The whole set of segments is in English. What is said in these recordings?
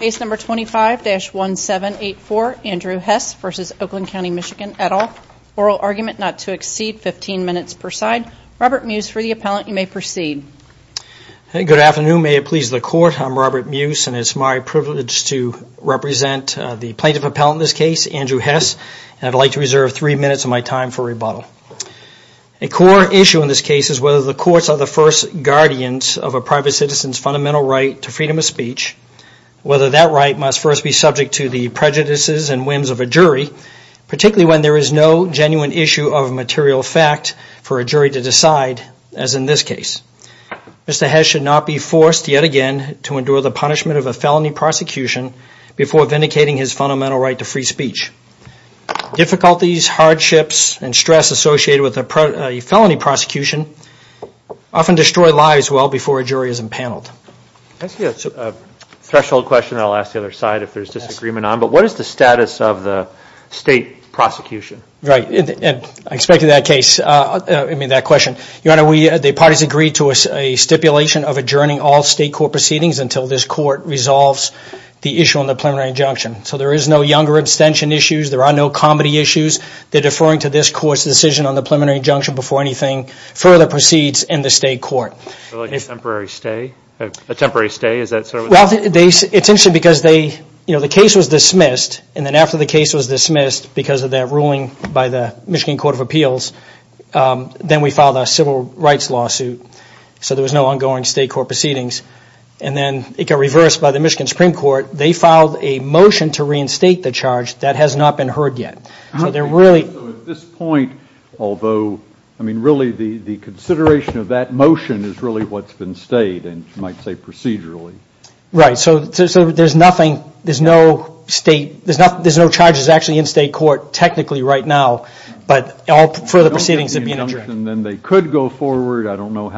Case number 25-1784, Andrew Hess v. Oakland County, MI et al. Oral argument not to exceed 15 minutes per side. Robert Muse for the appellant, you may proceed. Good afternoon, may it please the court, I'm Robert Muse and it's my privilege to represent the plaintiff appellant in this case, Andrew Hess, and I'd like to reserve three minutes of my time for rebuttal. A core issue in this case is whether the courts are the first guardians of a private citizen's fundamental right to freedom of speech, whether that right must first be subject to the prejudices and whims of a jury, particularly when there is no genuine issue of material fact for a jury to decide, as in this case. Mr. Hess should not be forced yet again to endure the punishment of a felony prosecution before vindicating his fundamental right to free speech. Difficulties, hardships, and stress associated with a felony prosecution often destroy lives well before a jury is empaneled. Can I ask you a threshold question that I'll ask the other side if there's disagreement on, but what is the status of the state prosecution? Right, I expected that question. Your honor, the parties agreed to a stipulation of adjourning all state court proceedings until this court resolves the issue on the preliminary injunction. So there is no younger abstention issues, there are no comedy issues, they're deferring to this court's decision on the preliminary injunction before anything further proceeds in the state court. So like a temporary stay? Well, it's interesting because the case was dismissed, and then after the case was dismissed because of that ruling by the Michigan Court of Appeals, then we filed a civil rights lawsuit, so there was no ongoing state court proceedings, and then it got reversed by the Michigan Supreme Court. They filed a motion to reinstate the charge that has not been heard yet. So at this point, although, I mean really the consideration of that motion is really what's been stayed, and you might say procedurally. Right, so there's nothing, there's no state, there's no charges actually in state court technically right now, but all further proceedings have been adjourned. Then they could go forward, I don't know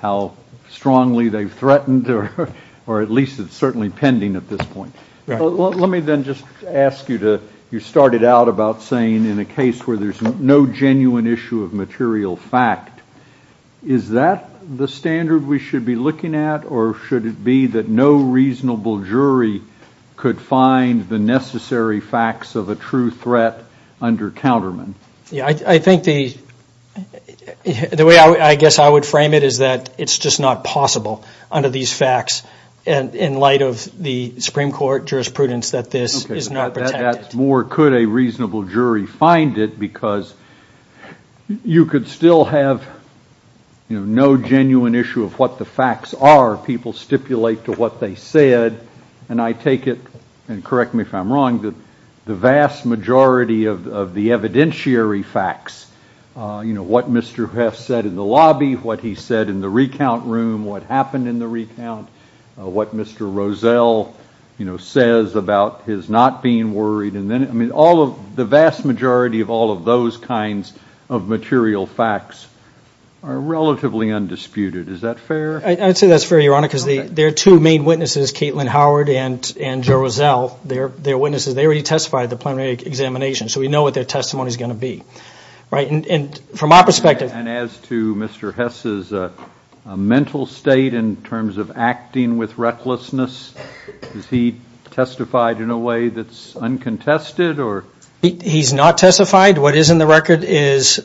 how strongly they've threatened, or at least it's pending at this point. Let me then just ask you to, you started out about saying in a case where there's no genuine issue of material fact, is that the standard we should be looking at, or should it be that no reasonable jury could find the necessary facts of a true threat under counterman? Yeah, I think the way I guess I would frame it is that it's just not possible under these facts, in light of the Supreme Court jurisprudence that this is not protected. Okay, that's more could a reasonable jury find it, because you could still have no genuine issue of what the facts are, people stipulate to what they said, and I take it, and correct me if I'm wrong, that the vast majority of the evidentiary facts, what Mr. Heff said in the lobby, what he said in the recount room, what happened in the recount, what Mr. Rosell says about his not being worried, the vast majority of all of those kinds of material facts are relatively undisputed. Is that fair? I'd say that's fair, Your Honor, because there are two main witnesses, Caitlin Howard and Joe Rosell, they're witnesses, they already testified at the preliminary examination, so we know what their testimony is going to be. Right, and from our perspective. And as to Mr. Hess's mental state in terms of acting with recklessness, is he testified in a way that's uncontested, or? He's not testified, what is in the record is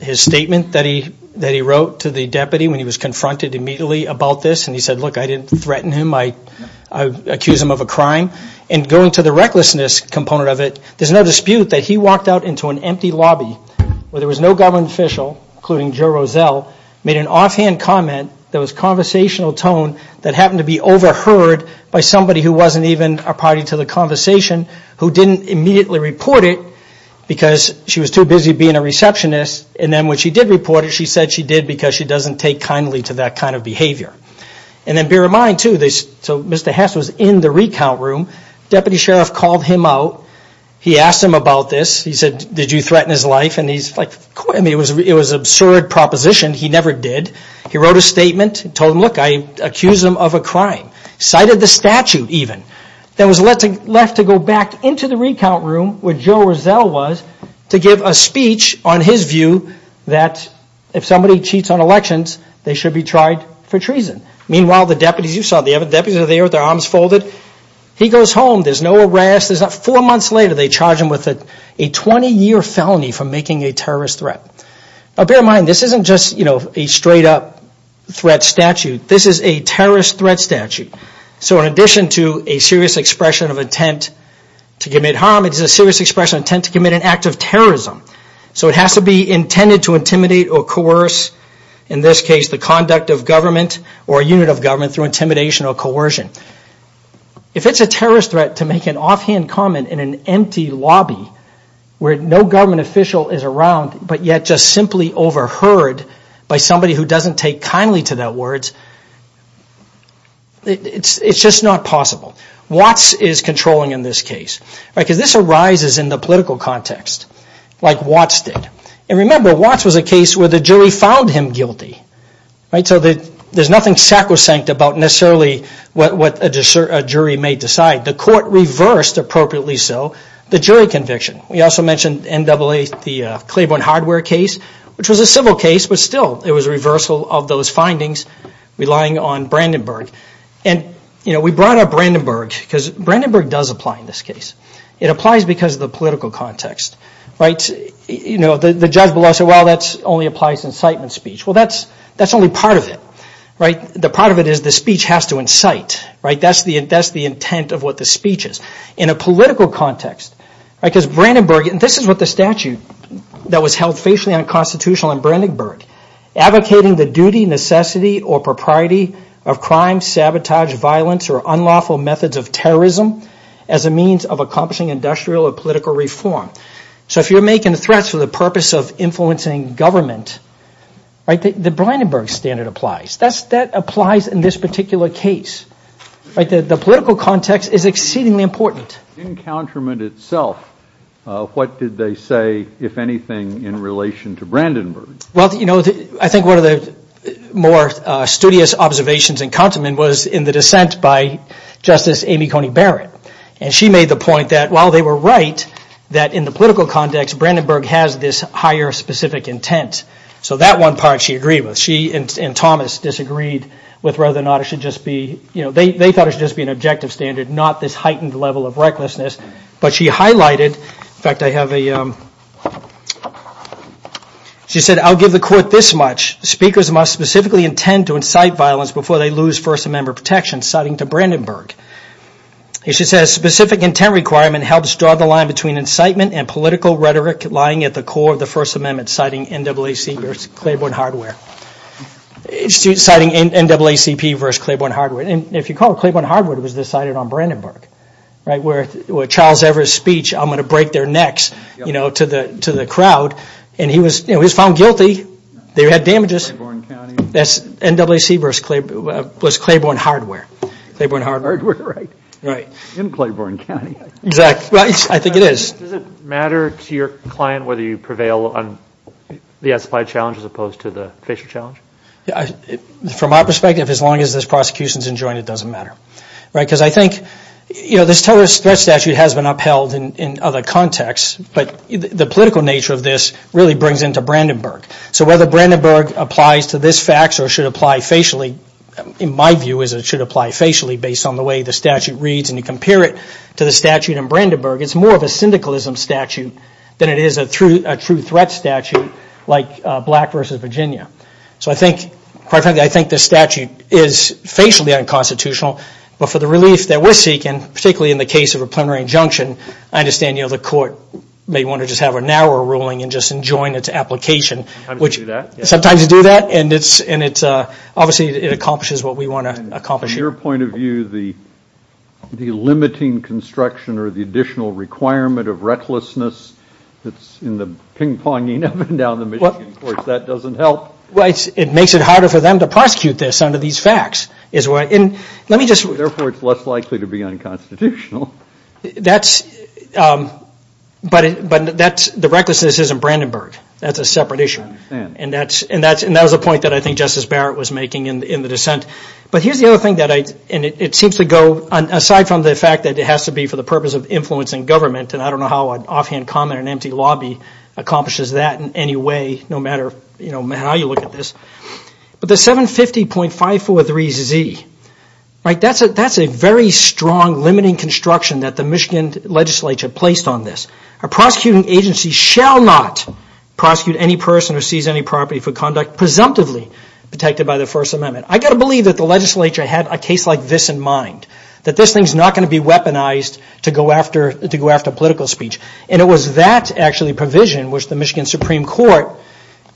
his statement that he wrote to the deputy when he was confronted immediately about this, and he said, look, I didn't threaten him, I accuse him of a crime. And going to the recklessness component of it, there's no dispute that he walked out into an empty lobby where there was no government official, including Joe Rosell, made an off-hand comment that was conversational tone that happened to be overheard by somebody who wasn't even a party to the conversation, who didn't immediately report it because she was too busy being a receptionist, and then when she did report it, she said she did because she doesn't take kindly to that kind of behavior. And then bear in mind too, so Mr. Hess was in the recount room, deputy sheriff called him out, he asked him about this, he said, did you threaten his life, and it was an absurd proposition, he never did, he wrote a statement, told him, look, I accuse him of a crime, cited the statute even, then was left to go back into the recount room where Joe Rosell was to give a speech on his view that if somebody cheats on elections, they should be tried for treason. Meanwhile, the deputies you saw, the deputies are there with their arms folded, he goes home, there's no arrest, four months later they charge him with a 20-year felony for making a terrorist threat. Now bear in mind, this isn't just a straight-up threat statute, this is a terrorist threat statute, so in addition to a serious expression of intent to commit harm, it is a serious expression of intent to commit an act of terrorism. So it has to be intended to intimidate or coerce, in this case, the conduct of government or a unit of government through intimidation or coercion. If it's a terrorist threat to make an offhand comment in an empty lobby where no government official is around, but yet just simply overheard by somebody who doesn't take kindly to that words, it's just not possible. Watts is controlling in this case, because this arises in the political context, like Watts did. And remember, Watts was a case where the jury found him guilty, so there's nothing sacrosanct about necessarily what a jury may decide. The court reversed, appropriately so, the jury conviction. We also mentioned NAA, the Claiborne Hardware case, which was a civil case, but still it was a reversal of those findings, relying on Brandenburg. And we brought up Brandenburg, because Brandenburg does apply in this case. It applies because of the political context. The judge below said, well, that only applies to incitement speech. Well, that's only part of it. The part of it is the speech has to incite. That's the intent of what the speech is. In a political context, because Brandenburg, and this is what the statute that was held facially unconstitutional in Brandenburg, advocating the duty, necessity, or propriety of crime, sabotage, violence, or unlawful methods of terrorism as a means of accomplishing industrial or political reform. So if you're making threats for the purpose of influencing government, the Brandenburg standard applies. That applies in this particular case. The political context is exceedingly important. In counterment itself, what did they say, if anything, in relation to Brandenburg? I think one of the more studious observations in counterment was in the dissent by Justice Amy Coney Barrett. And she made the point that while they were right, that in the political context, Brandenburg has this higher specific intent. So that one part she agreed with. And Thomas disagreed with whether or not it should just be, you know, they thought it should just be an objective standard, not this heightened level of recklessness. But she highlighted, in fact, I have a, she said, I'll give the court this much. Speakers must specifically intend to incite violence before they lose First Amendment protection, citing to Brandenburg. She says, specific intent requirement helps draw the line between incitement and political inciting NAACP versus Claiborne Hardwood. And if you call it Claiborne Hardwood, it was decided on Brandenburg, right, where Charles Evers' speech, I'm going to break their necks, you know, to the crowd. And he was found guilty. They had damages. That's NAACP versus Claiborne Hardwood, Claiborne Hardwood, right. In Claiborne County. Exactly. Right. I think it is. Does it matter to your client whether you prevail on the as-applied challenge as opposed to the facial challenge? From our perspective, as long as this prosecution is enjoined, it doesn't matter, right, because I think, you know, this terrorist threat statute has been upheld in other contexts, but the political nature of this really brings into Brandenburg. So whether Brandenburg applies to this fact or should apply facially, in my view, is it should apply facially based on the way the statute reads and you compare it to the statute in Brandenburg, it's more of a syndicalism statute than it is a true threat statute like Black versus Virginia. So I think, quite frankly, I think this statute is facially unconstitutional, but for the relief that we're seeking, particularly in the case of a plenary injunction, I understand, you know, the court may want to just have a narrower ruling and just enjoin its application, which sometimes you do that and it's, and it's obviously it accomplishes what we want to accomplish. From your point of view, the limiting construction or the additional requirement of recklessness that's in the ping-ponging up and down the Michigan courts, that doesn't help? Well, it makes it harder for them to prosecute this under these facts, is what, and let me just... Therefore, it's less likely to be unconstitutional. That's, but that's, the recklessness isn't Brandenburg. That's a separate issue. I understand. And that's, and that's, and that was a point that I think Justice Barrett was making in the dissent. But here's the other thing that I, and it seems to go, aside from the fact that it has to be for the purpose of influencing government, and I don't know how an offhand comment in an empty lobby accomplishes that in any way, no matter, you know, how you look at this. But the 750.543Z, right, that's a, that's a very strong limiting construction that the Michigan legislature placed on this. A prosecuting agency shall not prosecute any person who sees any property for conduct presumptively protected by the First Amendment. I got to believe that the legislature had a case like this in mind, that this thing's not going to be weaponized to go after, to go after political speech. And it was that, actually, provision, which the Michigan Supreme Court,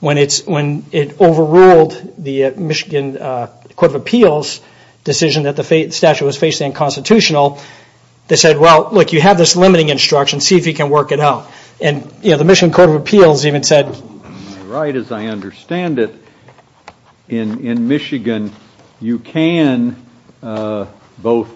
when it's, when it overruled the Michigan Court of Appeals decision that the statute was facing unconstitutional, they said, well, look, you have this limiting instruction, see if you can work it out. And you know, the Michigan Court of Appeals even said, right, as I understand it, in Michigan, you can both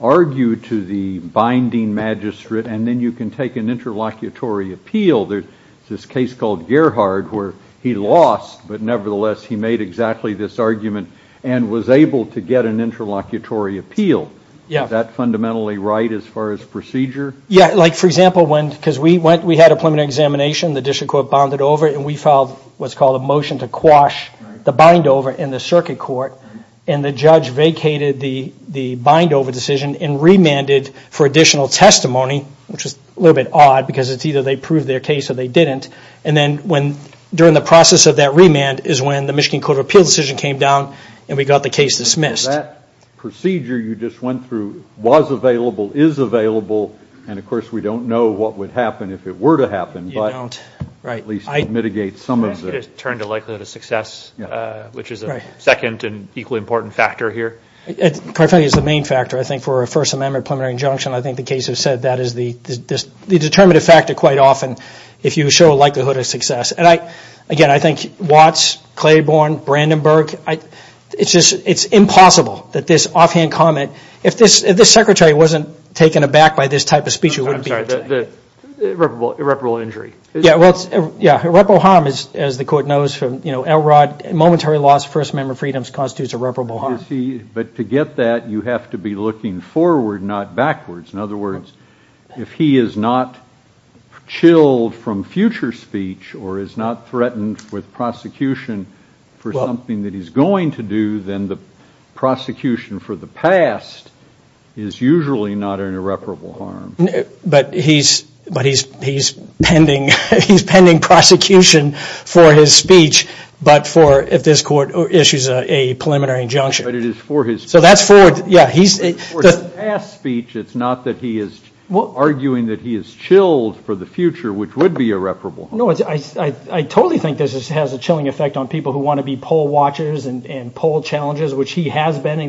argue to the binding magistrate, and then you can take an interlocutory appeal. There's this case called Gerhard, where he lost, but nevertheless, he made exactly this argument and was able to get an interlocutory appeal. Yeah. Is that fundamentally right as far as procedure? Yeah, like, for example, when, because we went, we had a preliminary examination, the district court bonded over it, and we filed what's called a motion to quash the bind over in the circuit court, and the judge vacated the, the bind over decision and remanded for additional testimony, which was a little bit odd, because it's either they proved their case or they didn't. And then when, during the process of that remand is when the Michigan Court of Appeals decision came down, and we got the case dismissed. That procedure you just went through was available, is available, and of course, we don't know what would happen if it were to happen, but at least it mitigates some of the... It turned a likelihood of success, which is a second and equally important factor here. It quite frankly is the main factor, I think, for a First Amendment preliminary injunction. I think the case has said that is the, the determinative factor quite often, if you show a likelihood of success, and I, again, I think Watts, Claiborne, Brandenburg, I, it's just, it's impossible that this offhand comment, if this, if this secretary wasn't taken aback by this type of speech, it wouldn't be... I'm sorry, the irreparable, irreparable injury. Yeah, well, it's, yeah, irreparable harm is, as the court knows from, you know, Elrod, momentary loss of First Amendment freedoms constitutes irreparable harm. You see, but to get that, you have to be looking forward, not backwards. In other words, if he is not chilled from future speech, or is not threatened with prosecution for something that he's going to do, then the prosecution for the past is usually not an irreparable harm. But he's, but he's, he's pending, he's pending prosecution for his speech, but for, if this court issues a preliminary injunction. But it is for his... So that's for, yeah, he's... For his past speech, it's not that he is arguing that he is chilled for the future, which would be irreparable. No, it's, I, I totally think this has a chilling effect on people who want to be poll watchers and poll challengers, which he has been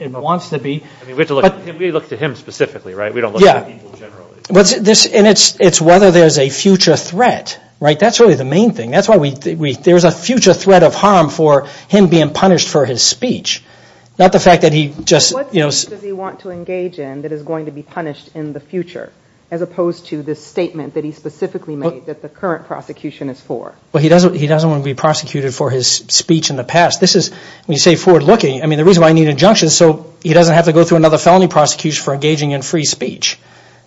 and wants to be. I mean, we have to look, we look to him specifically, right? We don't look at people generally. What's this, and it's, it's whether there's a future threat, right? That's really the main thing. That's why we, we, there's a future threat of harm for him being punished for his speech. Not the fact that he just, you know... What speech does he want to engage in that is going to be punished in the future, as opposed to this statement that he specifically made that the current prosecution is for? Well, he doesn't, he doesn't want to be prosecuted for his speech in the past. This is, when you say forward looking, I mean, the reason why I need injunctions, so he doesn't have to go through another felony prosecution for engaging in free speech.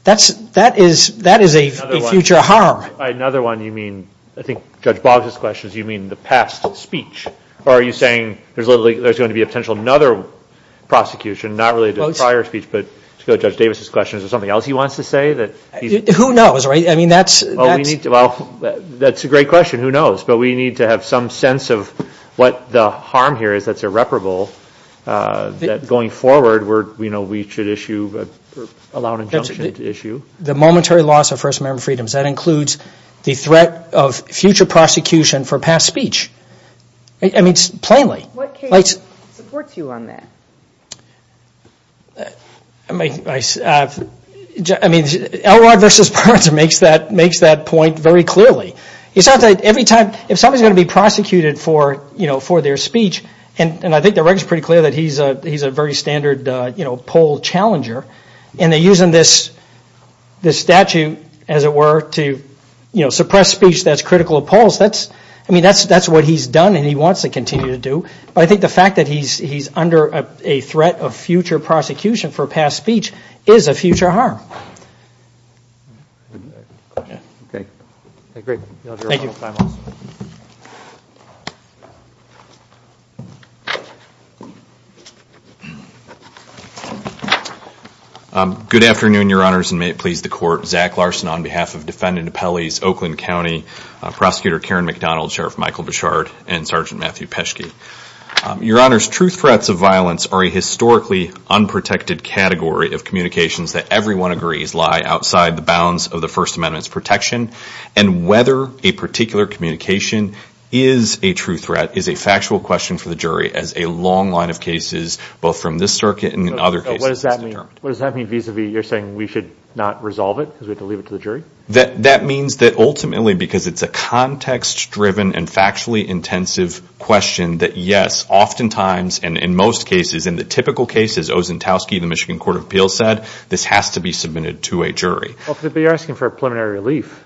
That's, that is, that is a future harm. Another one, you mean, I think Judge Boggs' questions, you mean the past speech, or are you saying there's literally, there's going to be a potential another prosecution, not related to the prior speech, but to go to Judge Davis' question, is there something else he wants to say that he's... Who knows, right? I mean, that's... Well, we need to, well, that's a great question. Who knows? But we need to have some sense of what the harm here is that's irreparable, that going forward, we're, you know, we should issue, allow an injunction to issue. The momentary loss of First Amendment freedoms, that includes the threat of future prosecution for past speech. I mean, plainly. What case supports you on that? I mean, I, I mean, Elrod versus Burns makes that, makes that point very clearly. It's not that every time, if somebody's going to be prosecuted for, you know, for their And I think the record's pretty clear that he's a, he's a very standard, you know, poll challenger. And they're using this, this statute, as it were, to, you know, suppress speech that's critical of polls. That's, I mean, that's, that's what he's done and he wants to continue to do. But I think the fact that he's, he's under a threat of future prosecution for past speech is a future harm. Okay. Great. Thank you. Good afternoon, your honors. And may it please the court. Zach Larson on behalf of Defendant Appellees, Oakland County, Prosecutor Karen McDonald, Sheriff Michael Bouchard, and Sergeant Matthew Peschke. Your honors, true threats of violence are a historically unprotected category of communications that everyone agrees lie outside the bounds of the First Amendment's protection. And whether a particular communication is a true threat is a factual question for the jury as a long line of cases, both from this circuit and in other cases, is determined. What does that mean? What does that mean vis-a-vis you're saying we should not resolve it because we have to leave it to the jury? That means that ultimately, because it's a context driven and factually intensive question that yes, oftentimes, and in most cases, in the typical cases, Ozentowski, the Michigan Court of Appeals said, this has to be submitted to a jury. But you're asking for preliminary relief.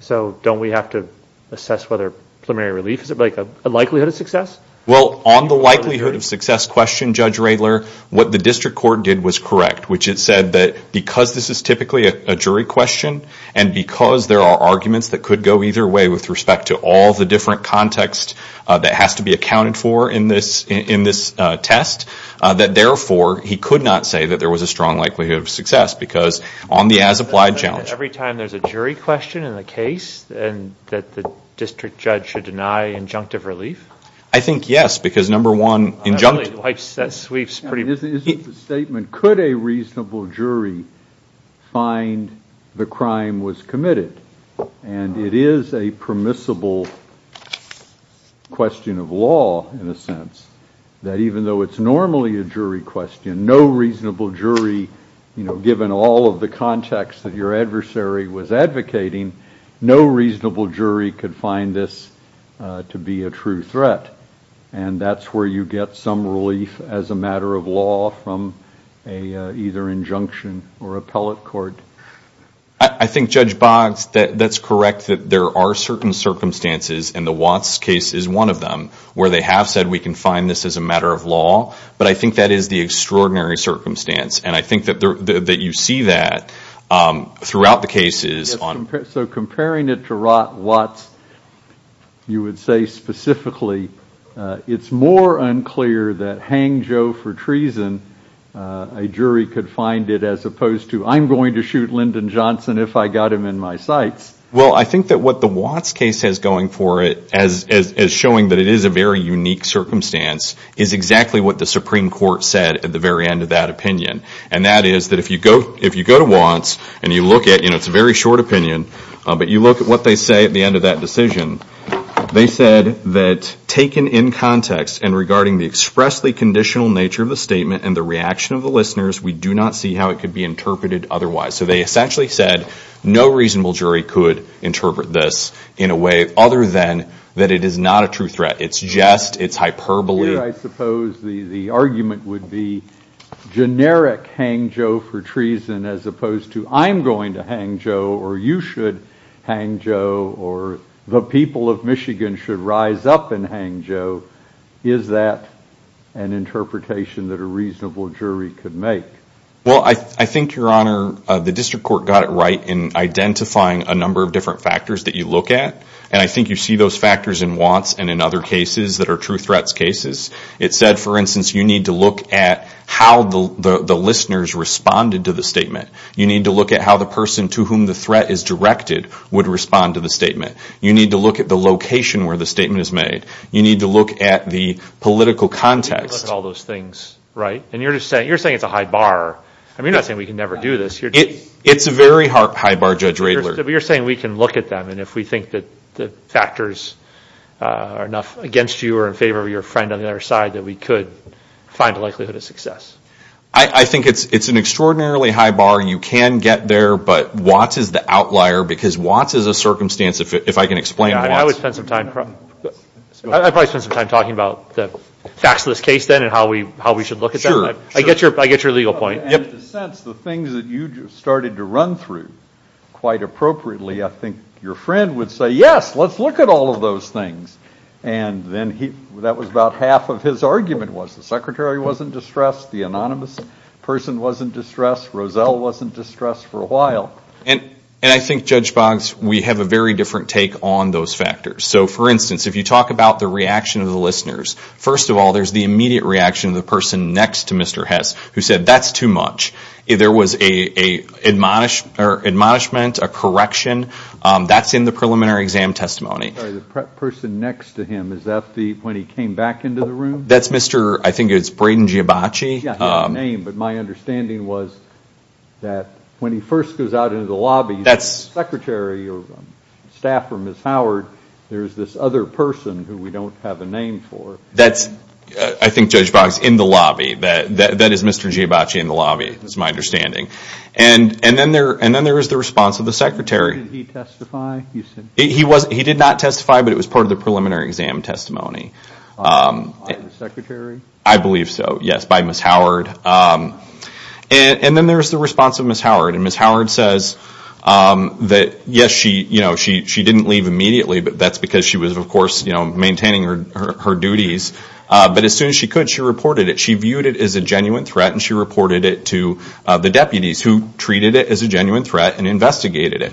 So don't we have to assess whether preliminary relief, is it like a likelihood of success? Well, on the likelihood of success question, Judge Radler, what the district court did was correct, which it said that because this is typically a jury question and because there are arguments that could go either way with respect to all the different context that has to be accounted for in this test, that therefore he could not say that there was a strong likelihood of success. Because on the as-applied challenge. Every time there's a jury question in the case, and that the district judge should deny injunctive relief? I think yes, because number one, injunctive. Really, that sweeps pretty quickly. Isn't the statement, could a reasonable jury find the crime was committed? And it is a permissible question of law, in a sense, that even though it's normally a jury question, no reasonable jury, you know, given all of the context that your adversary was advocating, no reasonable jury could find this to be a true threat. And that's where you get some relief as a matter of law from a either injunction or appellate court. I think Judge Boggs, that's correct that there are certain circumstances, and the Watts case is one of them, where they have said we can find this as a matter of law. But I think that is the extraordinary circumstance. And I think that you see that throughout the cases. So comparing it to Watts, you would say specifically, it's more unclear that hang Joe for treason, a jury could find it as opposed to I'm going to shoot Lyndon Johnson if I got him in my sights. Well, I think that what the Watts case has going for it, as showing that it is a very unique circumstance, is exactly what the Supreme Court said at the very end of that opinion. And that is that if you go to Watts and you look at, it's a very short opinion, but you look at what they say at the end of that decision, they said that taken in context and regarding the expressly conditional nature of the statement and the reaction of the listeners, we do not see how it could be interpreted otherwise. So they essentially said no reasonable jury could interpret this in a way other than that it is not a true threat. It is just. It is hyperbole. I suppose the argument would be generic hang Joe for treason as opposed to I'm going to hang Joe or you should hang Joe or the people of Michigan should rise up and hang Joe. Is that an interpretation that a reasonable jury could make? Well, I think, Your Honor, the District Court got it right in identifying a number of different factors that you look at. And I think you see those factors in Watts and in other cases that are true threats cases. It said, for instance, you need to look at how the listeners responded to the statement. You need to look at how the person to whom the threat is directed would respond to the You need to look at the location where the statement is made. You need to look at the political context. All those things, right? And you're just saying, you're saying it's a high bar. I mean, you're not saying we can never do this. It's a very high bar, Judge Radler. You're saying we can look at them and if we think that the factors are enough against you or in favor of your friend on the other side that we could find a likelihood of success. I think it's an extraordinarily high bar. You can get there. But Watts is the outlier because Watts is a circumstance, if I can explain, I would spend some time talking about the facts of this case then and how we how we should look at that. I get your I get your legal point. And in a sense, the things that you started to run through quite appropriately, I think your friend would say, yes, let's look at all of those things. And then he that was about half of his argument was the secretary wasn't distressed. The anonymous person wasn't distressed. Roselle wasn't distressed for a while. And I think, Judge Boggs, we have a very different take on those factors. So for instance, if you talk about the reaction of the listeners, first of all, there's the immediate reaction of the person next to Mr. Hess who said, that's too much. There was a admonishment or admonishment, a correction. That's in the preliminary exam testimony. The person next to him, is that the when he came back into the room? That's Mr. I think it's Brayden Giobacci. Yeah. He had a name. But my understanding was that when he first goes out into the lobby, that's secretary or staff or Ms. Howard. There's this other person who we don't have a name for. That's, I think, Judge Boggs, in the lobby. That is Mr. Giobacci in the lobby, is my understanding. And then there is the response of the secretary. Did he testify? He did not testify, but it was part of the preliminary exam testimony. On the secretary? I believe so, yes, by Ms. Howard. And then there's the response of Ms. Howard. And Ms. Howard says that, yes, she didn't leave immediately, but that's because she was, of course, maintaining her duties. But as soon as she could, she reported it. She viewed it as a genuine threat, and she reported it to the deputies, who treated it as a genuine threat and investigated it.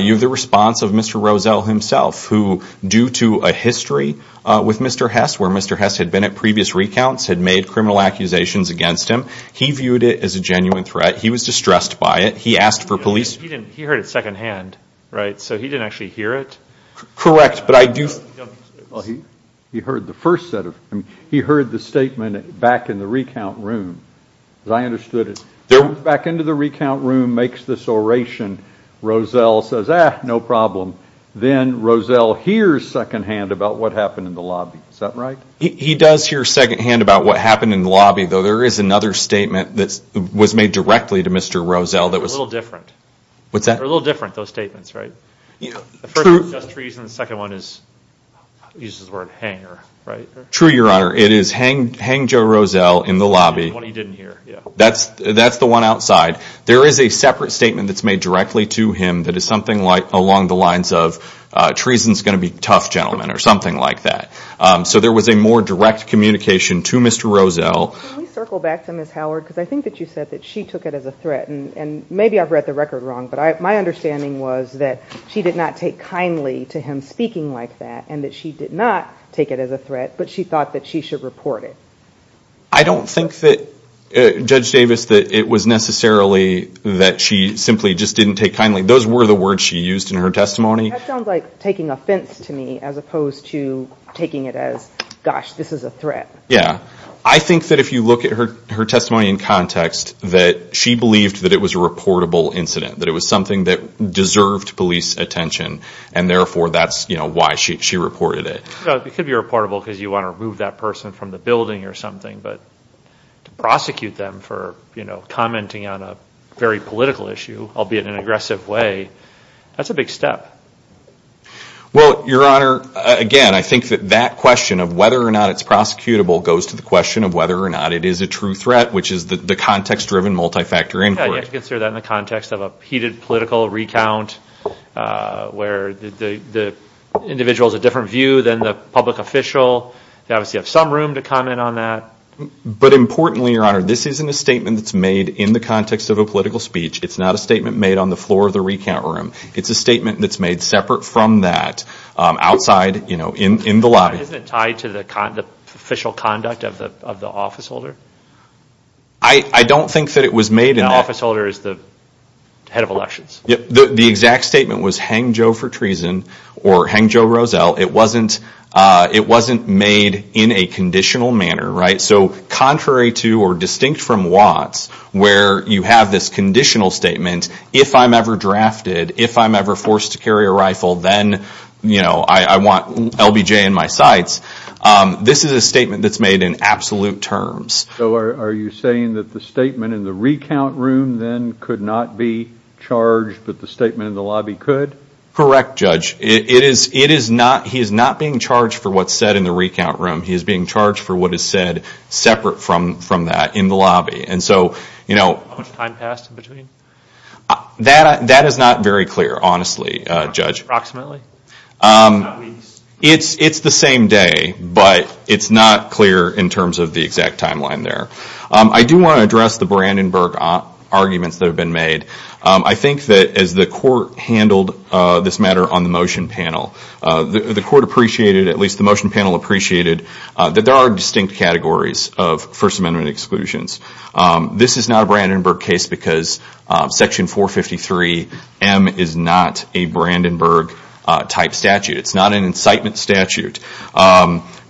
You have the response of Mr. Rosell himself, who, due to a history with Mr. Hess, where Mr. Hess had been at previous recounts, had made criminal accusations against him. He viewed it as a genuine threat. He was distressed by it. He asked for police. He heard it secondhand, right? So he didn't actually hear it? Correct. He heard the first set of, he heard the statement back in the recount room. As I understood it, back into the recount room, makes this oration, Rosell says, ah, no problem. Then Rosell hears secondhand about what happened in the lobby. Is that right? He does hear secondhand about what happened in the lobby, though there is another statement that was made directly to Mr. Rosell that was- A little different. What's that? A little different, those statements, right? The first is just treason. The second one is, uses the word hanger, right? True, your honor. It is hang Joe Rosell in the lobby. What he didn't hear, yeah. That's the one outside. There is a separate statement that's made directly to him that is something along the lines of, treason's going to be tough, gentlemen, or something like that. So there was a more direct communication to Mr. Rosell. Can we circle back to Ms. Howard, because I think that you said that she took it as a threat. Maybe I've read the record wrong, but my understanding was that she did not take kindly to him speaking like that, and that she did not take it as a threat, but she thought that she should report it. I don't think that, Judge Davis, that it was necessarily that she simply just didn't take kindly. Those were the words she used in her testimony. That sounds like taking offense to me, as opposed to taking it as, gosh, this is a threat. Yeah. I think that if you look at her testimony in context, that she believed that it was a reportable incident. That it was something that deserved police attention, and therefore that's why she reported it. It could be reportable because you want to remove that person from the building or something, but to prosecute them for commenting on a very political issue, albeit in an aggressive way, that's a big step. Well, Your Honor, again, I think that that question of whether or not it's prosecutable goes to the question of whether or not it is a true threat, which is the context-driven multi-factor inquiry. You have to consider that in the context of a heated political recount, where the individual has a different view than the public official. They obviously have some room to comment on that. But importantly, Your Honor, this isn't a statement that's made in the context of a political speech. It's not a statement made on the floor of the recount room. It's a statement that's made separate from that, outside, in the lobby. But isn't it tied to the official conduct of the officeholder? I don't think that it was made in that. The officeholder is the head of elections. The exact statement was, hang Joe for treason, or hang Joe Roselle. It wasn't made in a conditional manner, right? So contrary to, or distinct from Watts, where you have this conditional statement, if I'm ever drafted, if I'm ever forced to carry a rifle, then I want LBJ in my sights. This is a statement that's made in absolute terms. Are you saying that the statement in the recount room then could not be charged, but the statement in the lobby could? Correct, Judge. He is not being charged for what's said in the recount room. He is being charged for what is said separate from that, in the lobby. And so... How much time passed in between? That is not very clear, honestly, Judge. Approximately? It's the same day, but it's not clear in terms of the exact timeline there. I do want to address the Brandenburg arguments that have been made. I think that as the court handled this matter on the motion panel, the court appreciated, at least the motion panel appreciated, that there are distinct categories of First Amendment exclusions. This is not a Brandenburg case because Section 453M is not a Brandenburg type statute. It's not an incitement statute.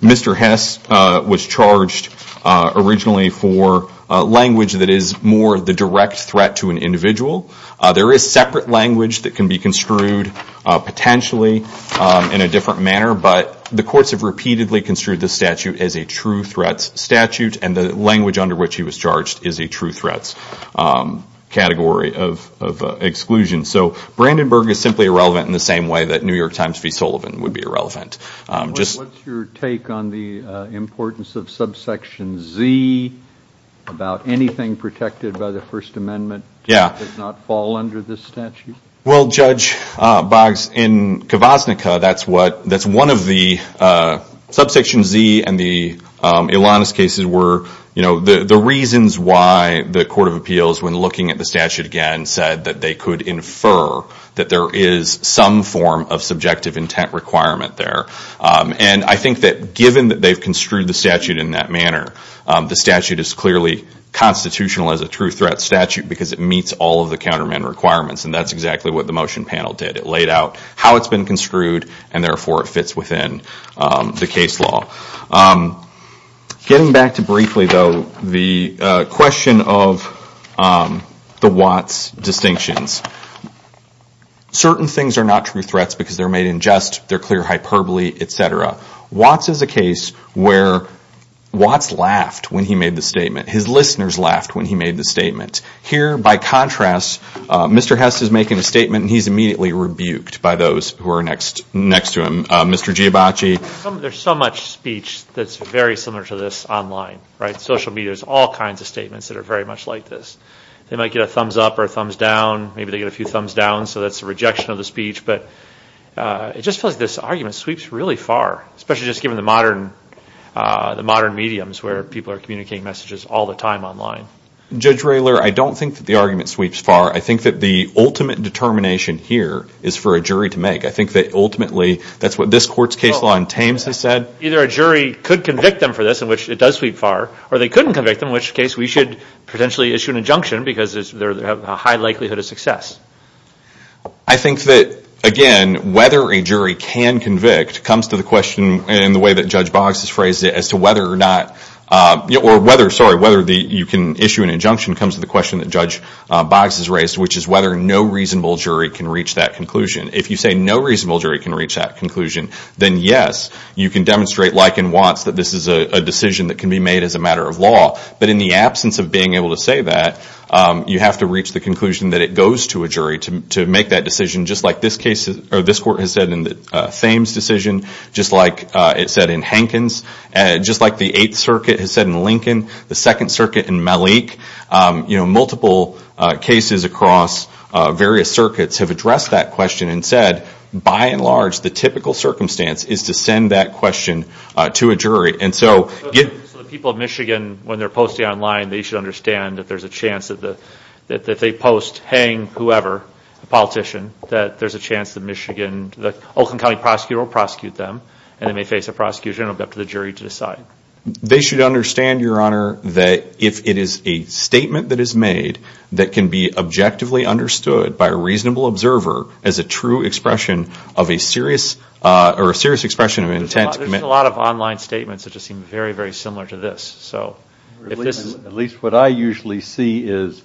Mr. Hess was charged originally for language that is more the direct threat to an individual. There is separate language that can be construed potentially in a different manner, but the courts have repeatedly construed this statute as a true threat statute, and the language under which he was charged is a true threat category of exclusion. So Brandenburg is simply irrelevant in the same way that New York Times v. Sullivan would be irrelevant. What's your take on the importance of subsection Z about anything protected by the First Amendment that does not fall under this statute? Judge Boggs, in Kavaznica, that's one of the subsection Z and the Ilanis cases were the reasons why the Court of Appeals, when looking at the statute again, said that they could infer that there is some form of subjective intent requirement there. I think that given that they've construed the statute in that manner, the statute is clearly constitutional as a true threat statute because it meets all of the countermeasure requirements, and that's exactly what the motion panel did. It laid out how it's been construed, and therefore it fits within the case law. Getting back to briefly, though, the question of the Watts distinctions. Certain things are not true threats because they're made in jest, they're clear hyperbole, etc. Watts is a case where Watts laughed when he made the statement. His listeners laughed when he made the statement. Here, by contrast, Mr. Hess is making a statement and he's immediately rebuked by those who are next to him. Mr. Giabacci. There's so much speech that's very similar to this online, right? Social media has all kinds of statements that are very much like this. They might get a thumbs up or a thumbs down, maybe they get a few thumbs down, so that's a rejection of the speech, but it just feels like this argument sweeps really far, especially just given the modern mediums where people are communicating messages all the time online. Judge Raylor, I don't think that the argument sweeps far. I think that the ultimate determination here is for a jury to make. I think that ultimately, that's what this court's case law in Tames has said. Either a jury could convict them for this, in which it does sweep far, or they couldn't convict them, in which case we should potentially issue an injunction because they have a high likelihood of success. I think that, again, whether a jury can convict comes to the question in the way that Judge issue an injunction comes to the question that Judge Boggs has raised, which is whether no reasonable jury can reach that conclusion. If you say no reasonable jury can reach that conclusion, then yes, you can demonstrate like and once that this is a decision that can be made as a matter of law, but in the absence of being able to say that, you have to reach the conclusion that it goes to a jury to make that decision, just like this court has said in the Tames decision, just like it said in Hankins, just like the Eighth Circuit has said in Lincoln, the Second Circuit in Malik. Multiple cases across various circuits have addressed that question and said, by and large, the typical circumstance is to send that question to a jury. So the people of Michigan, when they're posting online, they should understand that there's a chance that if they post Hank, whoever, a politician, that there's a chance the Michigan, the Oakland County prosecutor will prosecute them, and they may face a prosecution, it will be up to the jury to decide. They should understand, Your Honor, that if it is a statement that is made that can be objectively understood by a reasonable observer as a true expression of a serious, or a serious expression of intent. There's a lot of online statements that just seem very, very similar to this. So at least what I usually see is,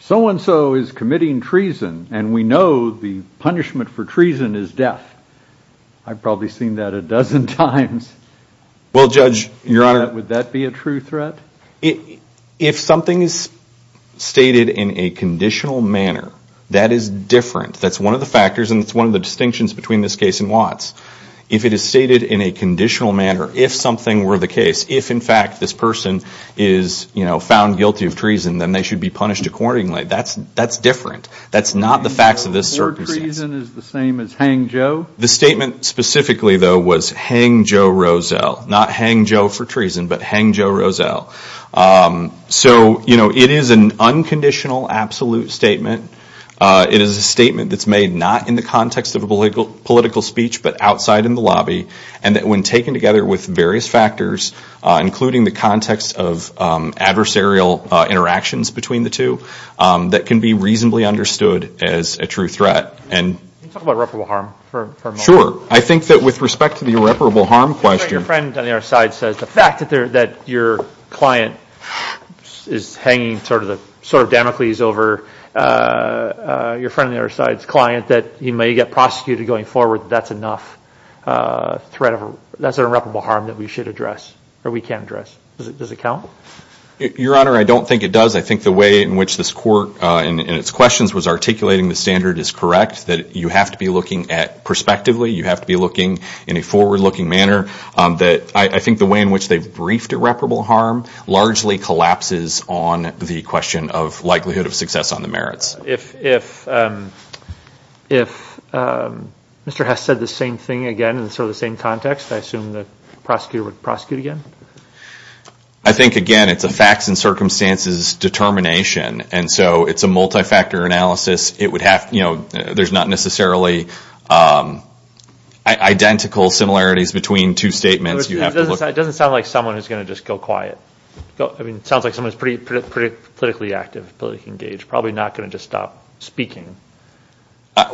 so-and-so is committing treason, and we know the punishment for treason is death. I've probably seen that a dozen times. Well, Judge, Your Honor. Would that be a true threat? If something is stated in a conditional manner, that is different. That's one of the factors, and it's one of the distinctions between this case and Watts. If it is stated in a conditional manner, if something were the case, if, in fact, this person is found guilty of treason, then they should be punished accordingly. That's different. That's not the facts of this circumstance. The word treason is the same as Hank Joe? The statement specifically, though, was Hank Joe Roselle. Not Hank Joe for treason, but Hank Joe Roselle. So it is an unconditional, absolute statement. It is a statement that's made not in the context of a political speech, but outside in the lobby, and that when taken together with various factors, including the context of adversarial interactions between the two, that can be reasonably understood as a true threat. Can you talk about reparable harm for a moment? Sure. I think that with respect to the reparable harm question— Your friend on the other side says the fact that your client is hanging sort of Damocles over your friend on the other side's client, that he may get prosecuted going forward, that's enough threat of—that's an irreparable harm that we should address, or we can address. Does it count? Your Honor, I don't think it does. I think the way in which this Court, in its questions, was articulating the standard is correct that you have to be looking at—perspectively, you have to be looking in a forward-looking manner. I think the way in which they've briefed irreparable harm largely collapses on the question of likelihood of success on the merits. If Mr. Hess said the same thing again in sort of the same context, I assume the prosecutor would prosecute again? I think, again, it's a facts and circumstances determination, and so it's a multi-factor analysis. It would have—you know, there's not necessarily identical similarities between two statements. It doesn't sound like someone who's going to just go quiet. I mean, it sounds like someone who's pretty politically active, politically engaged, probably not going to just stop speaking.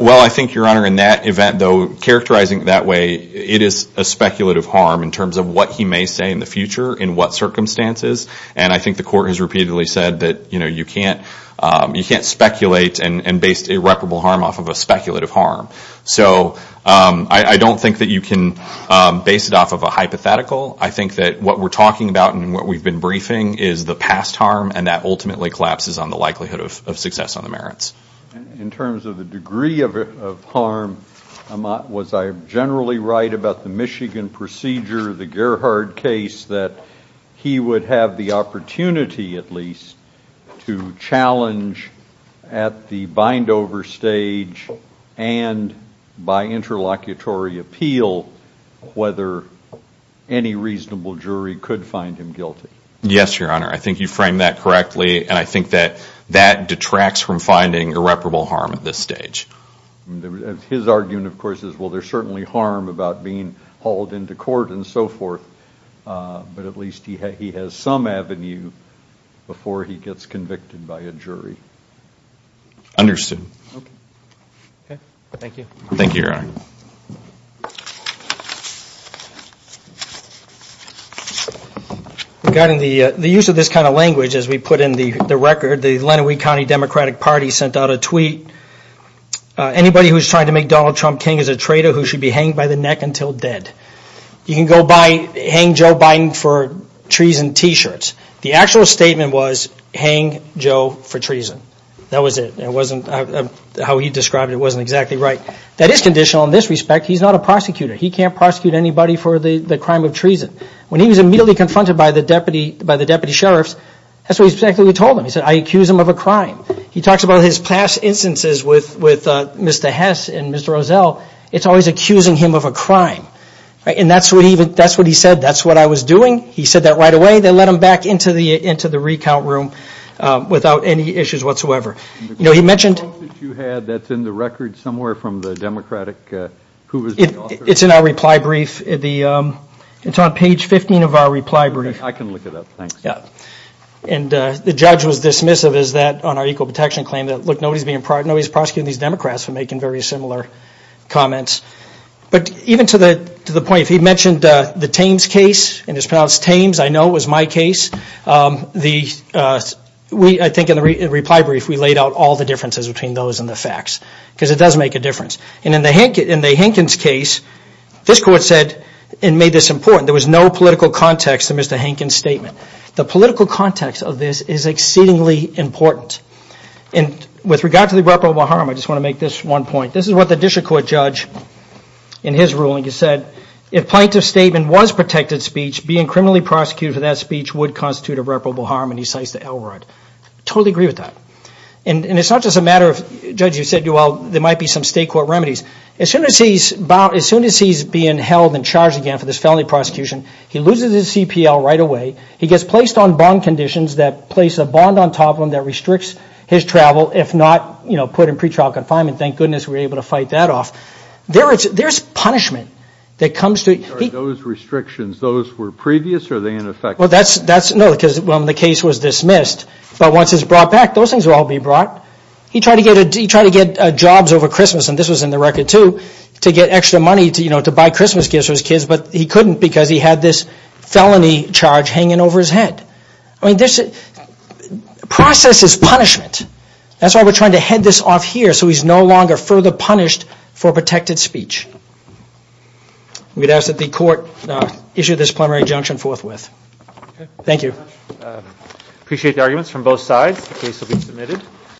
Well, I think, Your Honor, in that event, though, characterizing it that way, it is a speculative harm in terms of what he may say in the future, in what circumstances, and I think the Court has repeatedly said that, you know, you can't speculate and base irreparable harm off of a speculative harm. So I don't think that you can base it off of a hypothetical. I think that what we're talking about and what we've been briefing is the past harm, and that ultimately collapses on the likelihood of success on the merits. In terms of the degree of harm, Amat, was I generally right about the Michigan procedure, the Gerhard case, that he would have the opportunity, at least, to challenge at the Bindover stage and by interlocutory appeal whether any reasonable jury could find him guilty? Yes, Your Honor. I think you framed that correctly, and I think that that detracts from finding irreparable harm at this stage. His argument, of course, is, well, there's certainly harm about being hauled into court and so forth, but at least he has some avenue before he gets convicted by a jury. Understood. Okay. Thank you. Thank you, Your Honor. Regarding the use of this kind of language, as we put in the record, the Lenawee County Democratic Party sent out a tweet, anybody who is trying to make Donald Trump King is a traitor who should be hanged by the neck until dead. You can go by, hang Joe Biden for treason t-shirts. The actual statement was, hang Joe for treason. That was it. It wasn't how he described it, it wasn't exactly right. That is conditional in this respect. He's not a prosecutor. He can't prosecute anybody for the crime of treason. When he was immediately confronted by the deputy sheriffs, that's exactly what he told them. He said, I accuse him of a crime. He talks about his past instances with Mr. Hess and Mr. Rozelle. It's always accusing him of a crime. And that's what he said, that's what I was doing. He said that right away. They let him back into the recount room without any issues whatsoever. The post that you had, that's in the record somewhere from the Democratic, who was the It's in our reply brief. It's on page 15 of our reply brief. I can look it up, thanks. And the judge was dismissive on our equal protection claim that, look, nobody is prosecuting these Democrats for making very similar comments. But even to the point, if he mentioned the Thames case, and it's pronounced Thames, I know it was my case, I think in the reply brief, we laid out all the differences between those and the facts. Because it does make a difference. And in the Hankins case, this court said, and made this important, there was no political context to Mr. Hankins' statement. The political context of this is exceedingly important. And with regard to the reprobable harm, I just want to make this one point. This is what the district court judge, in his ruling, he said, if plaintiff's statement was protected speech, being criminally prosecuted for that speech would constitute a reprobable harm. And he cites the LRAD. I totally agree with that. And it's not just a matter of, Judge, you said, well, there might be some state court remedies. As soon as he's being held and charged again for this felony prosecution, he loses his CPL right away. He gets placed on bond conditions that place a bond on top of him that restricts his travel. If not put in pretrial confinement, thank goodness we were able to fight that off. There's punishment that comes through. Are those restrictions, those were previous or are they in effect? Well, that's, no, because when the case was dismissed, but once it's brought back, those things will all be brought. He tried to get jobs over Christmas, and this was in the record too, to get extra money to buy Christmas gifts for his kids, but he couldn't because he had this felony charge hanging over his head. I mean, there's, the process is punishment. That's why we're trying to head this off here so he's no longer further punished for protected speech. We'd ask that the court issue this preliminary injunction forthwith. Thank you. Appreciate the arguments from both sides. The case will be submitted.